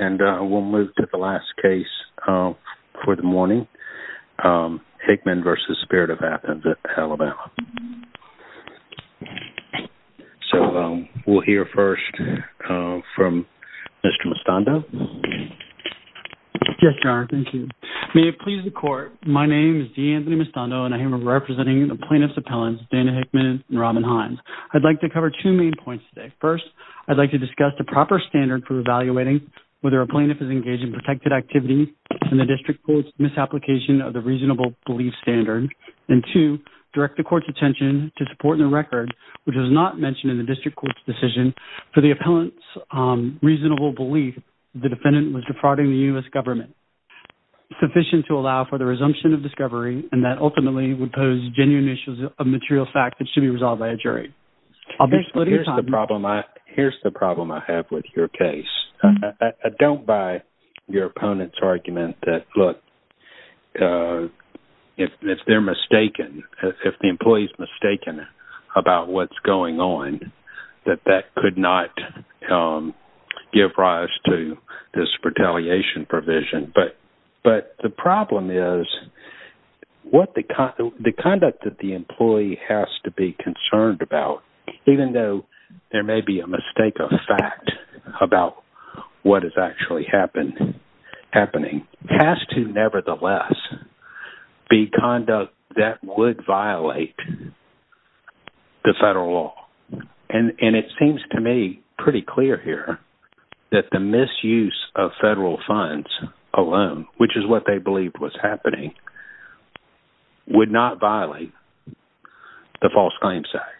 And we'll move to the last case for the morning, Hickman v. Spirit of Athens at Alabama. So we'll hear first from Mr. Mistando. Yes, Your Honor. Thank you. May it please the Court, my name is D'Anthony Mistando and I am representing the plaintiffs' appellants Dana Hickman and Robin Hines. I'd like to cover two main points today. First, I'd like to discuss the proper standard for evaluating whether a plaintiff is engaged in protected activity in the district court's misapplication of the reasonable belief standard. And two, direct the court's attention to support in the record which was not mentioned in the district court's decision for the appellant's reasonable belief the defendant was defrauding the U.S. government, sufficient to allow for the resumption of discovery and that ultimately would pose genuine issues of material fact that should be resolved by a jury. Here's the problem I have with your case. I don't buy your opponent's argument that, look, if they're mistaken, if the employee's mistaken about what's going on, that that could not give rise to this retaliation provision. But the problem is the conduct that the employee has to be concerned about, even though there may be a mistake of fact about what is actually happening, has to nevertheless be conduct that would violate the federal law. And it seems to me pretty clear here that the misuse of federal funds alone, which is what they believed was happening, would not violate the False Claims Act.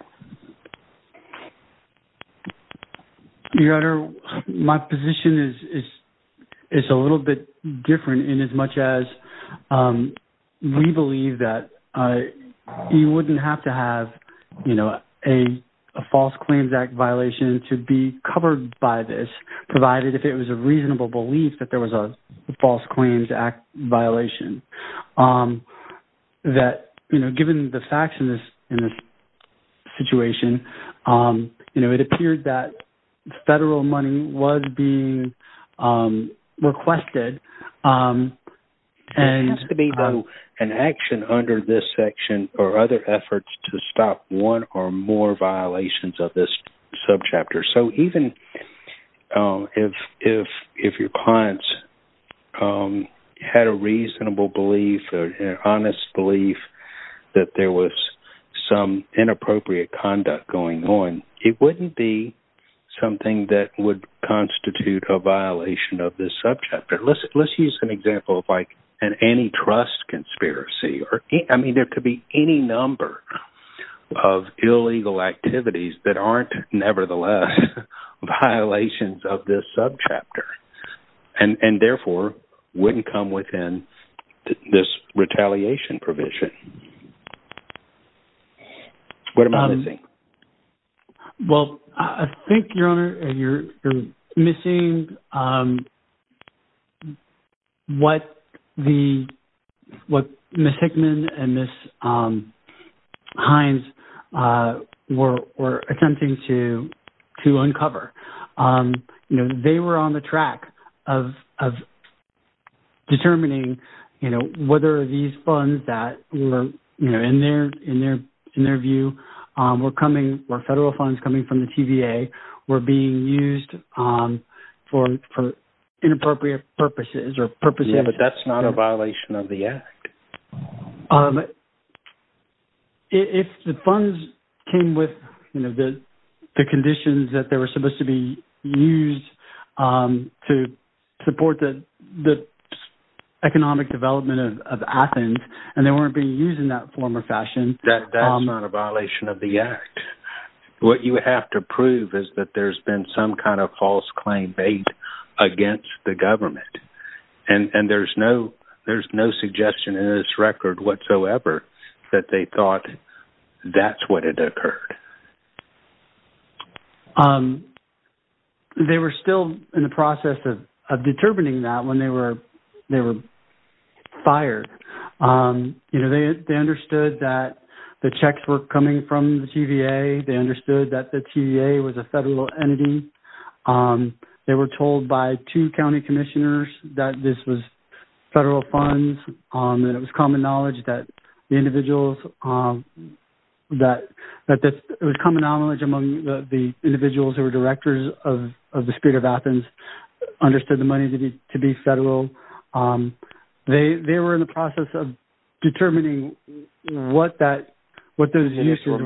Your Honor, my position is a little bit different in as much as we believe that you wouldn't have to have, you know, a False Claims Act violation to be covered by this, you know, it appears that federal money was being requested. There seems to be, though, an action under this section or other efforts to stop one or more violations of this subchapter. So even if your clients had a reasonable belief or an honest belief that there was some inappropriate conduct going on, it wouldn't be something that would constitute a violation of this subchapter. Let's use an example of like an antitrust conspiracy. I mean, there could be any number of illegal activities that aren't nevertheless violations of this subchapter and therefore wouldn't come within this retaliation provision. What am I missing? Well, I think, Your Honor, you're missing what Ms. Hickman and Ms. Hines were attempting to uncover. You know, they were on the track of determining, you know, whether these funds that were, you know, in their view were coming, were federal funds coming from the TVA were being used for inappropriate purposes or purposes. Yes, but that's not a violation of the Act. If the funds came with, you know, the conditions that they were supposed to be used to support the economic development of Athens and they weren't being used in that form or fashion. That's not a violation of the Act. What you have to prove is that there's been some kind of false claim made against the government. And there's no suggestion in this record whatsoever that they thought that's what had occurred. They were still in the process of determining that when they were fired. You know, they understood that the checks were coming from the TVA. They understood that the TVA was a federal entity. They were told by two county commissioners that this was federal funds. And it was common knowledge that the individuals, that it was common knowledge among the individuals who were directors of the State of Athens understood the money to be federal. They were in the process of determining what that, what those uses were.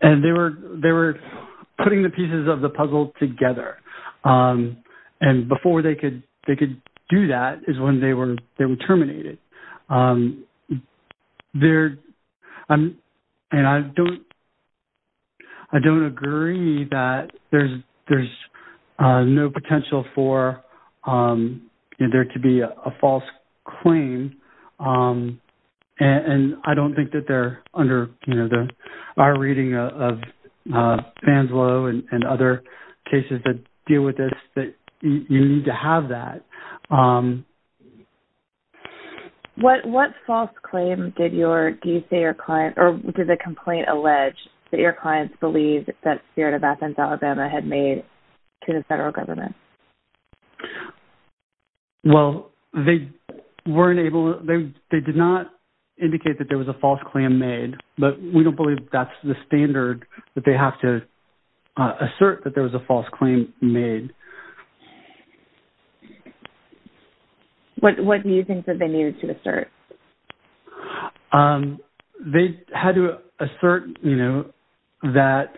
And they were putting the pieces of the puzzle together. And before they could do that is when they were terminated. There, and I don't, I don't agree that there's no potential for there to be a false claim. And I don't think that they're under, you know, our reading of Fanslow and other cases that deal with this that you need to have that. What, what false claim did your, do you say your client, or did the complaint allege that your clients believe that Spirit of Athens, Alabama had made to the federal government? Well, they weren't able, they did not indicate that there was a false claim made. But we don't believe that's the standard that they have to assert that there was a false claim made. What do you think that they needed to assert? They had to assert, you know, that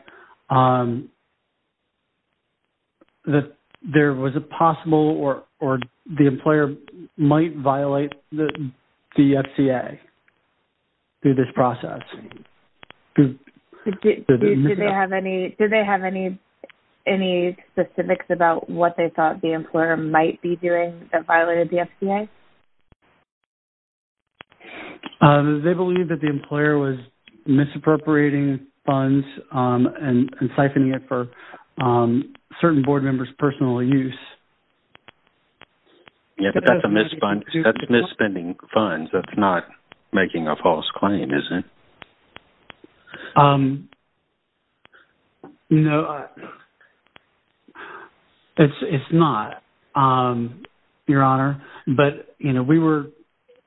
there was a possible or the employer might violate the FCA through this process. Do they have any, do they have any, any specifics about what they thought the employer might be doing that violated the FCA? They believe that the employer was misappropriating funds and siphoning it for certain board members' personal use. Yeah, but that's a mis-spending funds, that's not making a false claim, is it? No, it's not, Your Honor. But, you know, we were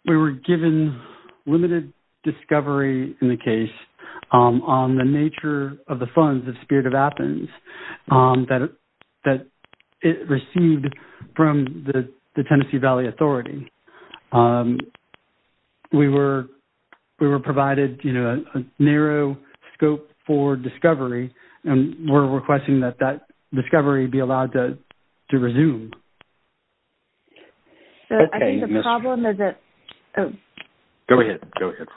given limited discovery in the case on the nature of the funds of Spirit of Athens that it received from the Tennessee Valley Authority. We were, we were provided, you know, a narrow scope for discovery, and we're requesting that that discovery be allowed to resume. So I think the problem is that... Go ahead, go ahead.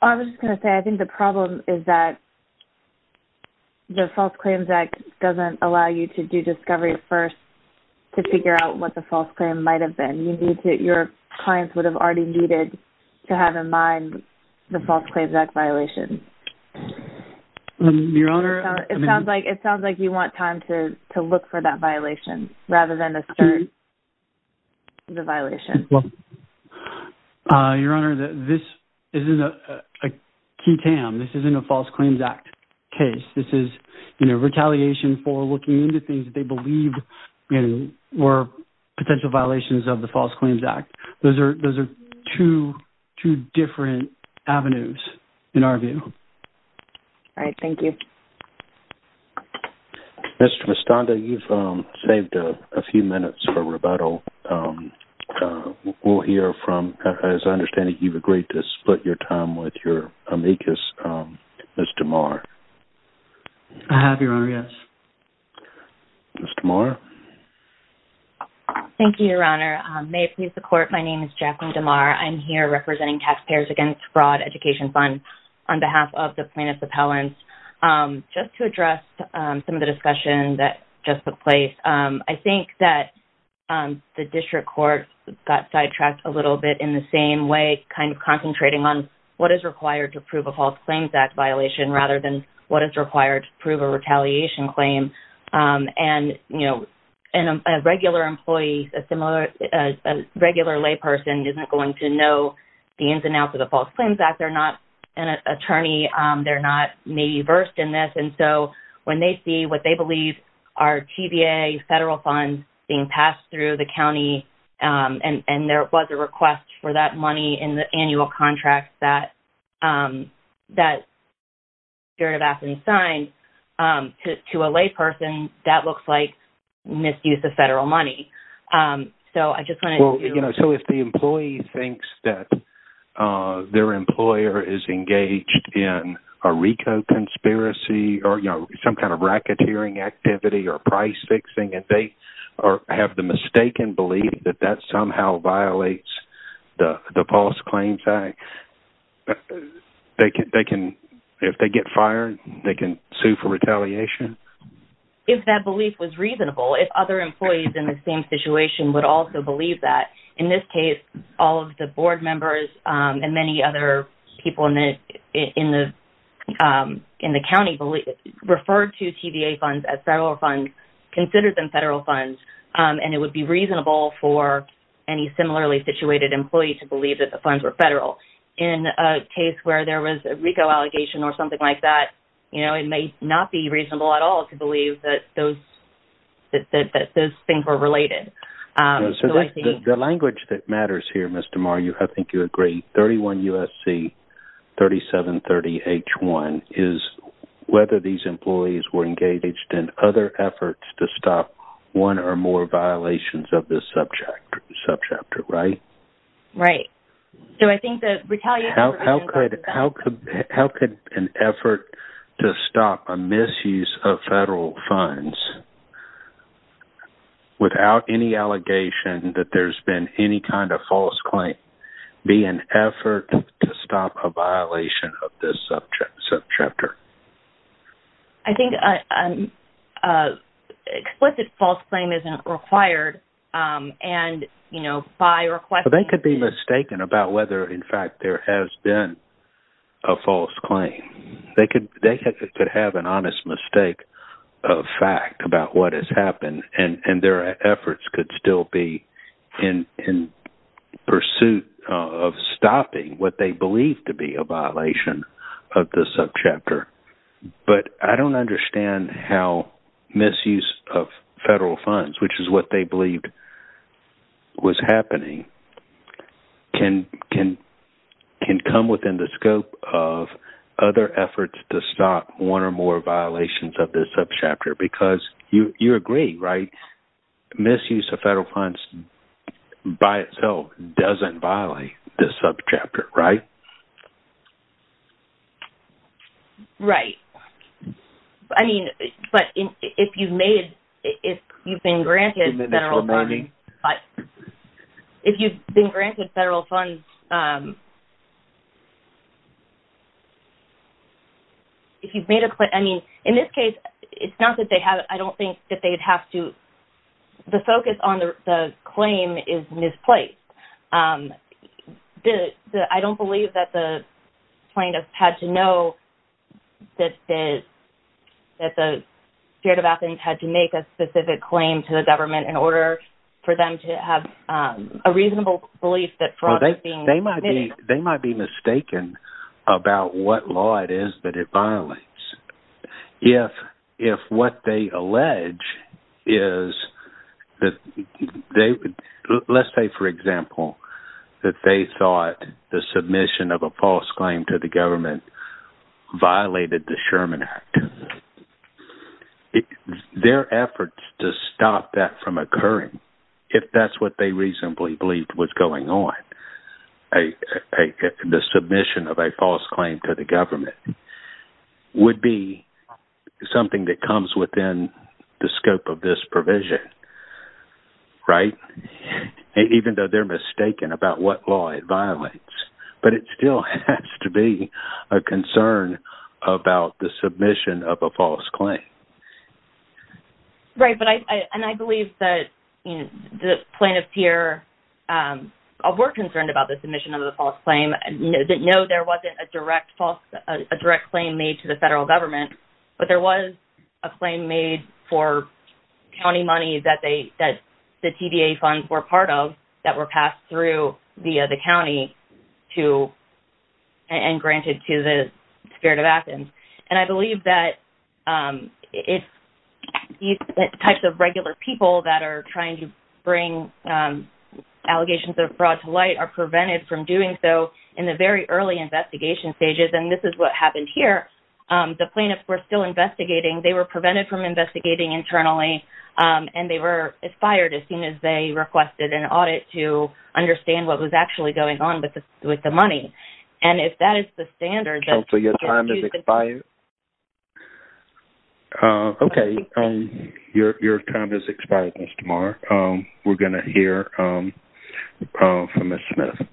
I was just going to say, I think the problem is that the False Claims Act doesn't allow you to do discovery first to figure out what the false claim might have been. You need to, your clients would have already needed to have in mind the False Claims Act violation. Your Honor... It sounds like, it sounds like you want time to look for that violation rather than assert the violation. Your Honor, this isn't a key-tam, this isn't a False Claims Act case. This is, you know, retaliation for looking into things that they believed, you know, were potential violations of the False Claims Act. Those are, those are two, two different avenues, in our view. All right, thank you. Mr. Mistanda, you've saved a few minutes for rebuttal. We'll hear from, as I understand it, you've agreed to split your time with your amicus, Mr. Maher. I have, Your Honor, yes. Ms. DeMar? Thank you, Your Honor. May it please the Court, my name is Jacqueline DeMar. I'm here representing Taxpayers Against Fraud Education Fund on behalf of the plaintiffs' appellants. Just to address some of the discussion that just took place, I think that the District Court got sidetracked a little bit in the same way, kind of concentrating on what is required to prove a False Claims Act violation rather than what is required to prove a retaliation claim. And, you know, a regular employee, a similar, a regular layperson isn't going to know the ins and outs of the False Claims Act. They're not an attorney, they're not maybe versed in this. And so, when they see what they believe are TVA federal funds being passed through the county, and there was a request for that money in the annual contract that the District of Athens signed to a layperson, that looks like misuse of federal money. So, I just wanted to... Well, you know, so if the employee thinks that their employer is engaged in a RICO conspiracy, or, you know, some kind of racketeering activity, or price fixing, and they have the mistaken belief that that somehow violates the False Claims Act, they can, if they get fired, they can sue for retaliation? If that belief was reasonable, if other employees in the same situation would also believe that. In this case, all of the board members and many other people in the county referred to TVA funds as federal funds, considered them federal funds, and it would be reasonable for any similarly situated employee to believe that the funds were federal. In a case where there was a RICO allegation or something like that, you know, it may not be reasonable at all to believe that those things were related. The language that matters here, Ms. DeMario, I think you agree, 31 U.S.C. 3730 H1 is whether these employees were engaged in other efforts to stop one or more violations of this subject, right? Right. So I think the retaliation... How could an effort to stop a misuse of federal funds without any allegation that there's been any kind of false claim be an effort to stop a violation of this subject? I think an explicit false claim isn't required, and, you know, by requesting... They could be mistaken about whether, in fact, there has been a false claim. They could have an honest mistake of fact about what has happened, and their efforts could still be in pursuit of stopping what they believe to be a violation of the subchapter. But I don't understand how misuse of federal funds, which is what they believed was happening, can come within the scope of other efforts to stop one or more violations of this subchapter, because you agree, right? Misuse of federal funds by itself doesn't violate this subchapter, right? Right. I mean, but if you've made... If you've been granted federal funds... If you've been granted federal funds... If you've made a... I mean, in this case, it's not that they have... I don't think that they'd have to... The focus on the claim is misplaced. The... I don't believe that the plaintiffs had to know that the... that the spirit of Athens had to make a specific claim to the government in order for them to have a reasonable belief that fraud was being committed. They might be mistaken about what law it is that it violates. If what they allege is that they... Let's say, for example, that they thought the submission of a false claim to the government violated the Sherman Act. Their efforts to stop that from occurring, if that's what they reasonably believed was going on, the submission of a false claim to the government, would be something that comes within the scope of this provision. Right? Even though they're mistaken about what law it violates. But it still has to be a concern about the submission of a false claim. Right, but I... And I believe that the plaintiffs here were concerned about the submission of the false claim. No, there wasn't a direct claim made to the federal government, but there was a claim made for county money that the TDA funds were part of that were passed through via the county to... and granted to the spirit of Athens. And I believe that these types of regular people that are trying to bring allegations of fraud to light are prevented from doing so in the very early investigation stages. And this is what happened here. The plaintiffs were still investigating. They were prevented from investigating internally, and they were fired as soon as they requested an audit to understand what was actually going on with the money. And if that is the standard... So your time has expired? Okay, your time has expired, Mr. Marr. We're going to hear from Ms. Smith.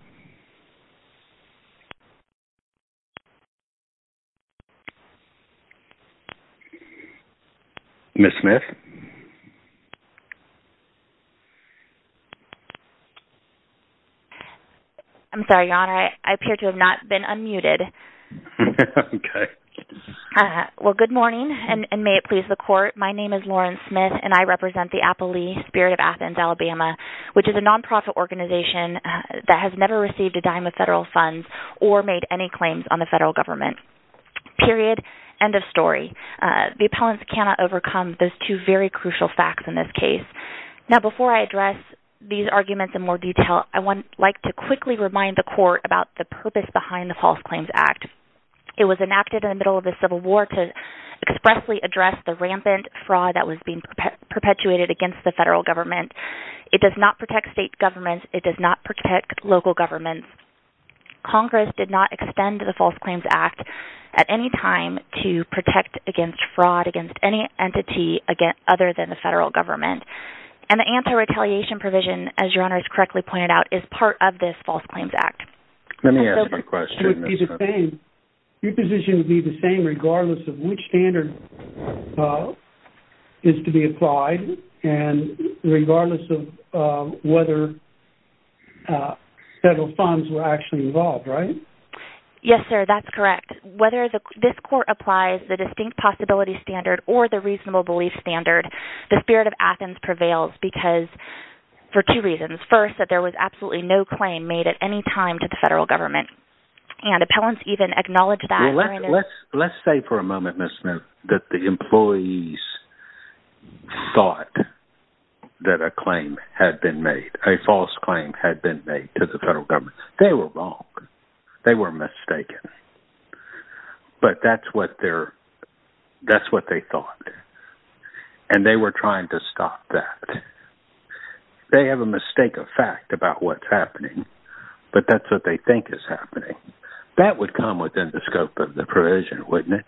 Ms. Smith? I'm sorry, Your Honor. I appear to have not been unmuted. Okay. Well, good morning, and may it please the Court. My name is Lauren Smith, and I represent the Apple Lee Spirit of Athens, Alabama, which is a nonprofit organization that has never received a dime of federal funds or made any claims on the federal government. Period. End of story. The appellants cannot overcome those two very crucial facts in this case. Now, before I address these arguments in more detail, I would like to quickly remind the Court about the purpose behind the False Claims Act. It was enacted in the middle of the Civil War to expressly address the rampant fraud that was being perpetuated against the federal government. It does not protect state governments. It does not protect local governments. Congress did not extend the False Claims Act at any time to protect against fraud against any entity other than the federal government. And the anti-retaliation provision, as Your Honor has correctly pointed out, is part of this False Claims Act. Let me ask my question. Your position would be the same regardless of which standard is to be applied and regardless of whether federal funds were actually involved, right? Yes, sir, that's correct. And whether this Court applies the distinct possibility standard or the reasonable belief standard, the spirit of Athens prevails because, for two reasons. First, that there was absolutely no claim made at any time to the federal government. And appellants even acknowledge that during their... Let's say for a moment, Ms. Smith, that the employees thought that a claim had been made, a false claim had been made to the federal government. They were wrong. They were mistaken. But that's what they thought. And they were trying to stop that. They have a mistake of fact about what's happening, but that's what they think is happening. That would come within the scope of the provision, wouldn't it?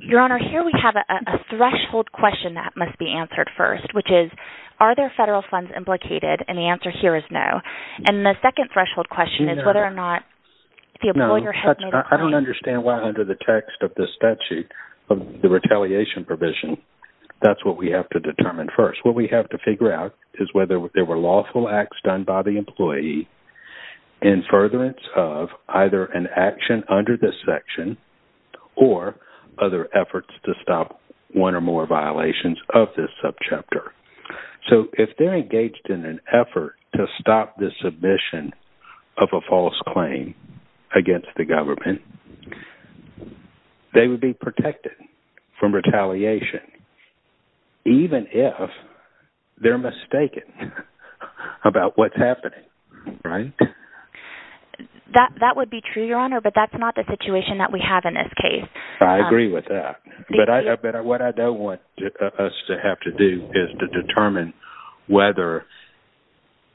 Your Honor, here we have a threshold question that must be answered first, which is, are there federal funds implicated? And the answer here is no. And the second threshold question is whether or not the employer has made a claim. I don't understand why under the text of this statute, the retaliation provision, that's what we have to determine first. What we have to figure out is whether there were lawful acts done by the employee in furtherance of either an action under this section or other efforts to stop one or more violations of this subchapter. So if they're engaged in an effort to stop the submission of a false claim against the government, they would be protected from retaliation, even if they're mistaken about what's happening. That would be true, Your Honor, but that's not the situation that we have in this case. I agree with that. But what I don't want us to have to do is to determine whether,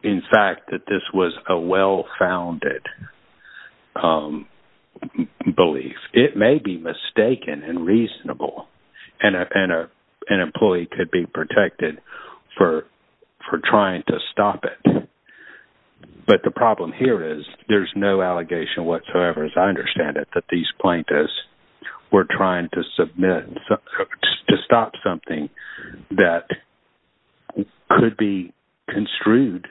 in fact, that this was a well-founded belief. It may be mistaken and reasonable, and an employee could be protected for trying to stop it. But the problem here is there's no allegation whatsoever, as I understand it, that these plaintiffs were trying to stop something that could be construed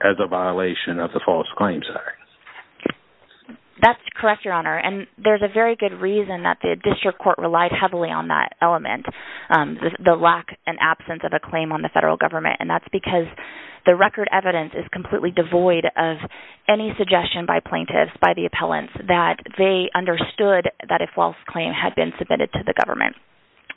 as a violation of the False Claims Act. That's correct, Your Honor, and there's a very good reason that the district court relied heavily on that element, the lack and absence of a claim on the federal government, and that's because the record evidence is completely devoid of any suggestion by plaintiffs, by the appellants, that they understood that a false claim had been submitted to the government.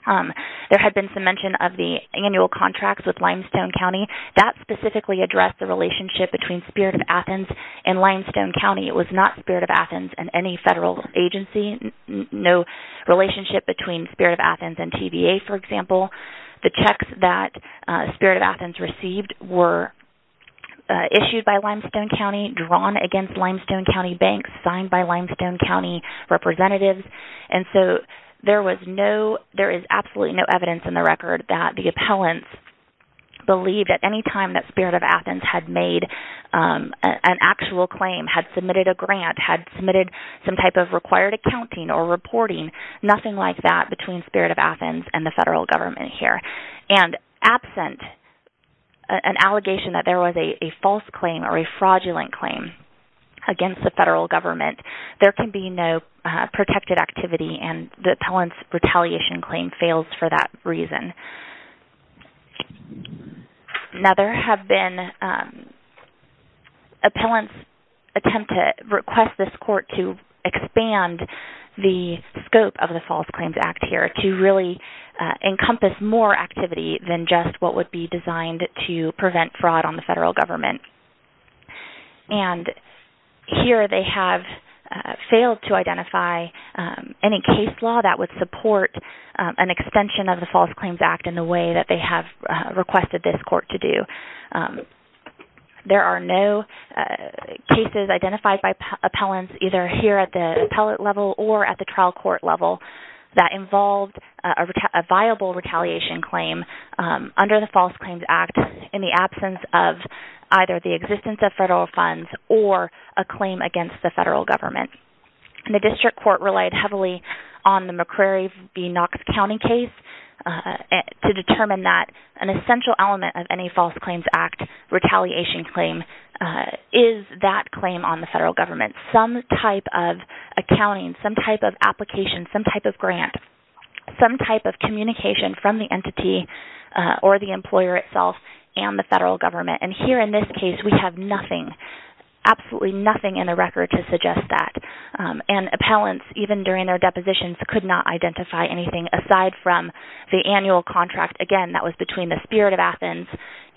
There had been some mention of the annual contracts with Limestone County. That specifically addressed the relationship between Spirit of Athens and Limestone County. It was not Spirit of Athens and any federal agency, no relationship between Spirit of Athens and TVA, for example. The checks that Spirit of Athens received were issued by Limestone County, drawn against Limestone County banks, signed by Limestone County representatives, and so there is absolutely no evidence in the record that the appellants believed at any time that Spirit of Athens had made an actual claim, had submitted a grant, had submitted some type of required accounting or reporting, nothing like that between Spirit of Athens and the federal government here. And absent an allegation that there was a false claim or a fraudulent claim against the federal government, there can be no protected activity and the appellant's retaliation claim fails for that reason. Now there have been appellants attempt to request this court to expand the scope of the False Claims Act here to really encompass more activity than just what would be designed to prevent fraud on the federal government. And here they have failed to identify any case law that would support an extension of the False Claims Act in the way that they have requested this court to do. There are no cases identified by appellants either here at the appellate level or at the trial court level that involved a viable retaliation claim under the False Claims Act in the absence of either the existence of federal funds or a claim against the federal government. The district court relied heavily on the McCrary v. Knox County case to determine that an essential element of any False Claims Act retaliation claim is that claim on the federal government. Some type of accounting, some type of application, some type of grant, some type of communication from the entity or the employer itself and the federal government. And here in this case we have nothing, absolutely nothing in the record to suggest that. And appellants even during their depositions could not identify anything aside from the annual contract, again, that was between the Spirit of Athens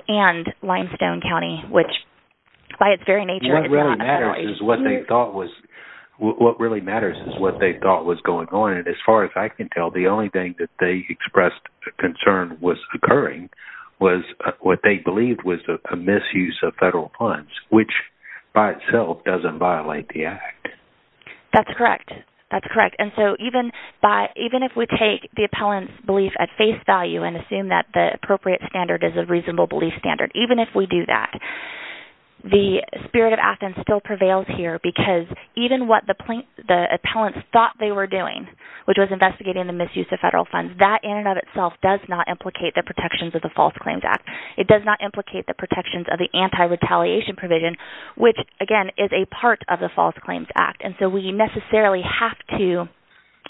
and Limestone County, which by its very nature is not a federal agency. What really matters is what they thought was going on. And as far as I can tell, the only thing that they expressed concern was occurring was what they believed was a misuse of federal funds, which by itself doesn't violate the Act. That's correct. That's correct. And so even if we take the appellant's belief at face value and assume that the appropriate standard is a reasonable belief standard, even if we do that, the Spirit of Athens still prevails here because even what the appellants thought they were doing, which was investigating the misuse of federal funds, that in and of itself does not implicate the protections of the False Claims Act. It does not implicate the protections of the anti-retaliation provision, which, again, is a part of the False Claims Act. And so we necessarily have to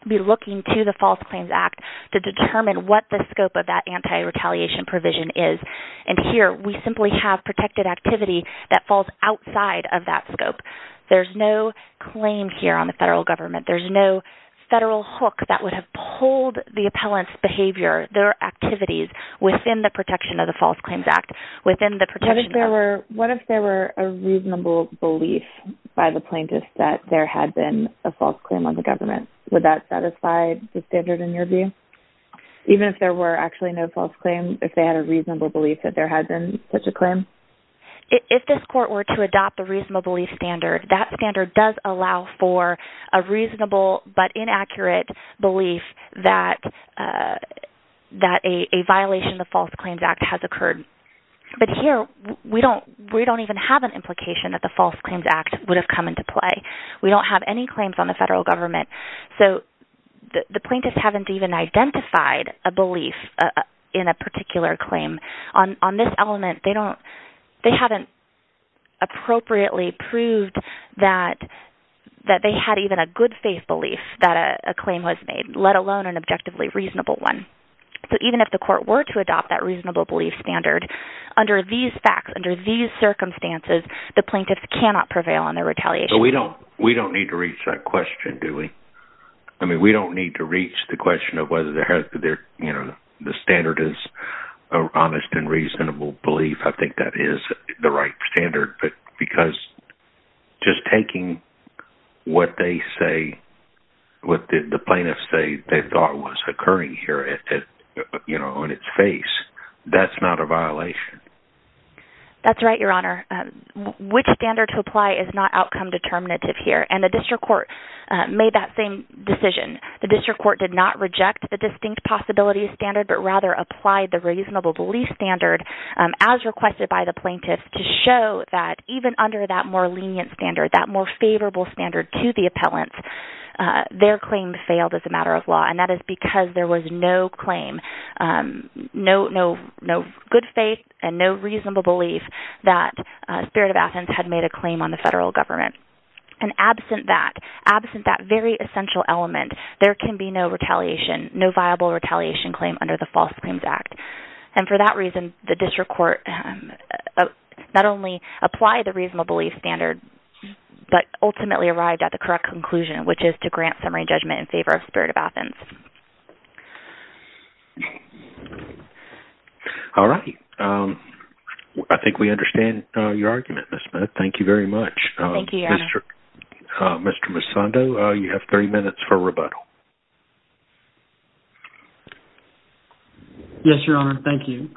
be looking to the False Claims Act to determine what the scope of that anti-retaliation provision is. And here, we simply have protected activity that falls outside of that scope. There's no claim here on the federal government. There's no federal hook that would have pulled the appellant's behavior, their activities within the protection of the False Claims Act, within the protection of... that there had been a false claim on the government. Would that satisfy the standard in your view? Even if there were actually no false claim, if they had a reasonable belief that there had been such a claim? If this court were to adopt the reasonable belief standard, that standard does allow for a reasonable but inaccurate belief that a violation of the False Claims Act has occurred. But here, we don't even have an implication that the False Claims Act would have come into play. We don't have any claims on the federal government. So the plaintiffs haven't even identified a belief in a particular claim. On this element, they don't... they haven't appropriately proved that they had even a good faith belief that a claim was made, let alone an objectively reasonable one. So even if the court were to adopt that reasonable belief standard, under these facts, under these circumstances, the plaintiffs cannot prevail on their retaliation. So we don't need to reach that question, do we? I mean, we don't need to reach the question of whether there has to be... you know, the standard is an honest and reasonable belief. I think that is the right standard. But because just taking what they say, what the plaintiffs say they thought was occurring here, you know, in its face, that's not a violation. That's right, Your Honor. Which standard to apply is not outcome determinative here. And the district court made that same decision. The district court did not reject the distinct possibility standard, but rather applied the reasonable belief standard, as requested by the plaintiffs, to show that even under that more lenient standard, that more favorable standard to the appellant, their claim failed as a matter of law. And that is because there was no claim, no good faith and no reasonable belief that Spirit of Athens had made a claim on the federal government. And absent that, absent that very essential element, there can be no retaliation, no viable retaliation claim under the False Claims Act. And for that reason, the district court not only applied the reasonable belief standard, but ultimately arrived at the correct conclusion, which is to grant summary judgment in favor of Spirit of Athens. All right. I think we understand your argument, Ms. Smith. Thank you very much. Thank you, Your Honor. Mr. Misando, you have three minutes for rebuttal. Yes, Your Honor. Thank you.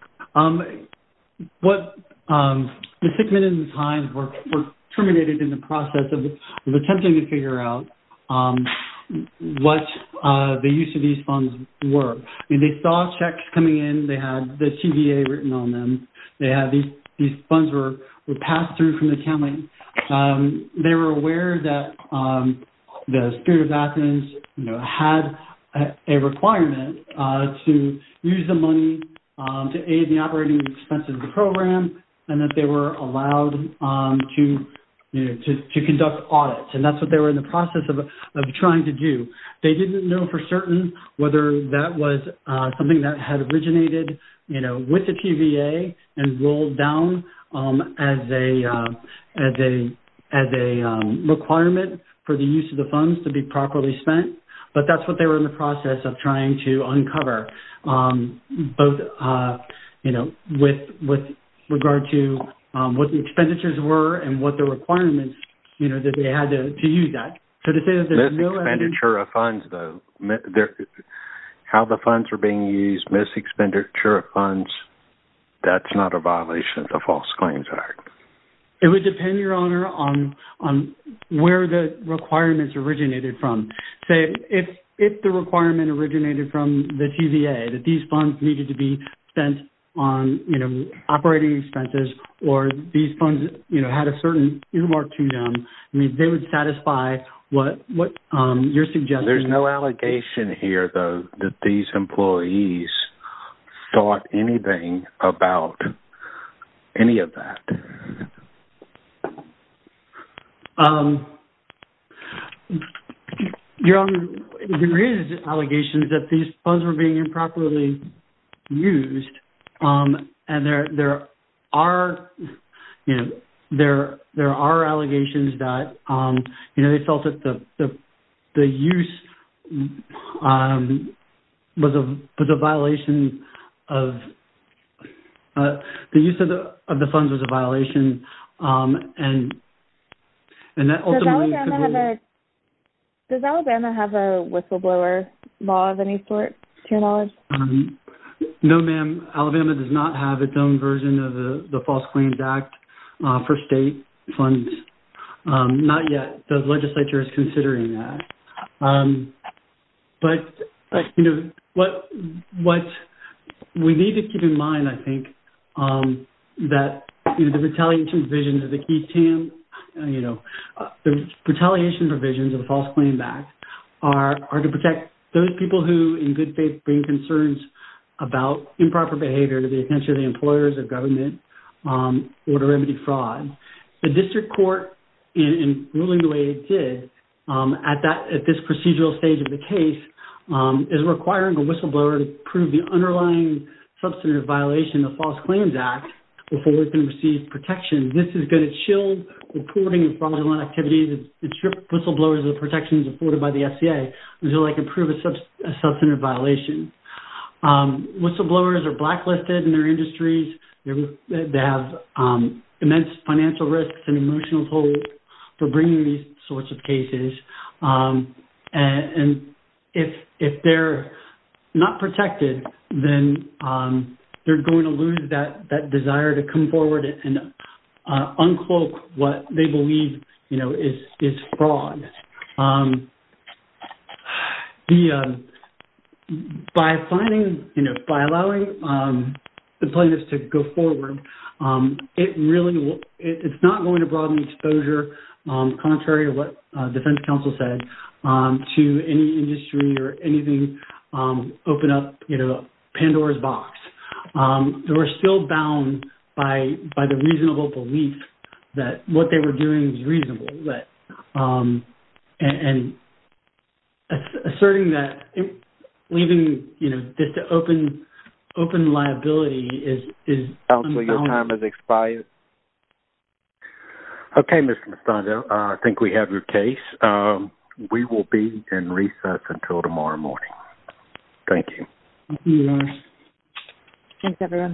What... The six minutes and time were terminated in the process of attempting to figure out what the use of these funds were. They saw checks coming in. They had the TVA written on them. These funds were passed through from the county. They were aware that the Spirit of Athens had a requirement to use the money to aid the operating expenses of the program, and that they were allowed to conduct audits. And that's what they were in the process of trying to do. They didn't know for certain whether that was something that had originated, you know, with the TVA and rolled down as a requirement for the use of the funds to be properly spent. But that's what they were in the process of trying to uncover, both, you know, with regard to what the expenditures were and what the requirements, you know, that they had to use that. Mis-expenditure of funds, though. How the funds were being used, mis-expenditure of funds, that's not a violation of the False Claims Act. It would depend, Your Honor, on where the requirements originated from. Say, if the requirement originated from the TVA, that these funds needed to be spent on, you know, operating expenses, or these funds, you know, had a certain earmark to them, they would satisfy what you're suggesting. There's no allegation here, though, that these employees thought anything about any of that. Your Honor, there is allegations that these funds were being improperly used. And there are, you know, there are allegations that, you know, they felt that the use was a violation of... the use of the funds was a violation, and that ultimately... Does Alabama have a whistleblower law of any sort, to your knowledge? No, ma'am. Alabama does not have its own version of the False Claims Act for state funds. Not yet. The legislature is considering that. But, you know, what we need to keep in mind, I think, that, you know, the retaliation provisions of the E-TAM, you know, the retaliation provisions of the False Claims Act are to protect those people who in good faith bring concerns about improper behavior to the attention of the employers or government or to remedy fraud. The district court, in ruling the way it did, at this procedural stage of the case, is requiring a whistleblower to prove the underlying substantive violation of the False Claims Act before it can receive protection. This is going to shield reporting of fraudulent activities and strip whistleblowers of the protections afforded by the FCA until they can prove a substantive violation. Whistleblowers are blacklisted in their industries. They have immense financial risks and emotional tolls for bringing these sorts of cases. And if they're not protected, then they're going to lose that desire to come forward and uncloak what they believe, you know, is fraud. By finding, you know, by allowing the plaintiffs to go forward, it really will, it's not going to broaden exposure, contrary to what defense counsel said, to any industry or anything open up, you know, Pandora's box. They were still bound by the reasonable belief that what they were doing was reasonable, and asserting that, leaving, you know, just an open liability is... Counsel, your time has expired. Okay, Mr. Mistando, I think we have your case. We will be in recess until tomorrow morning. Thank you. Thank you, Norris. Thanks, everyone.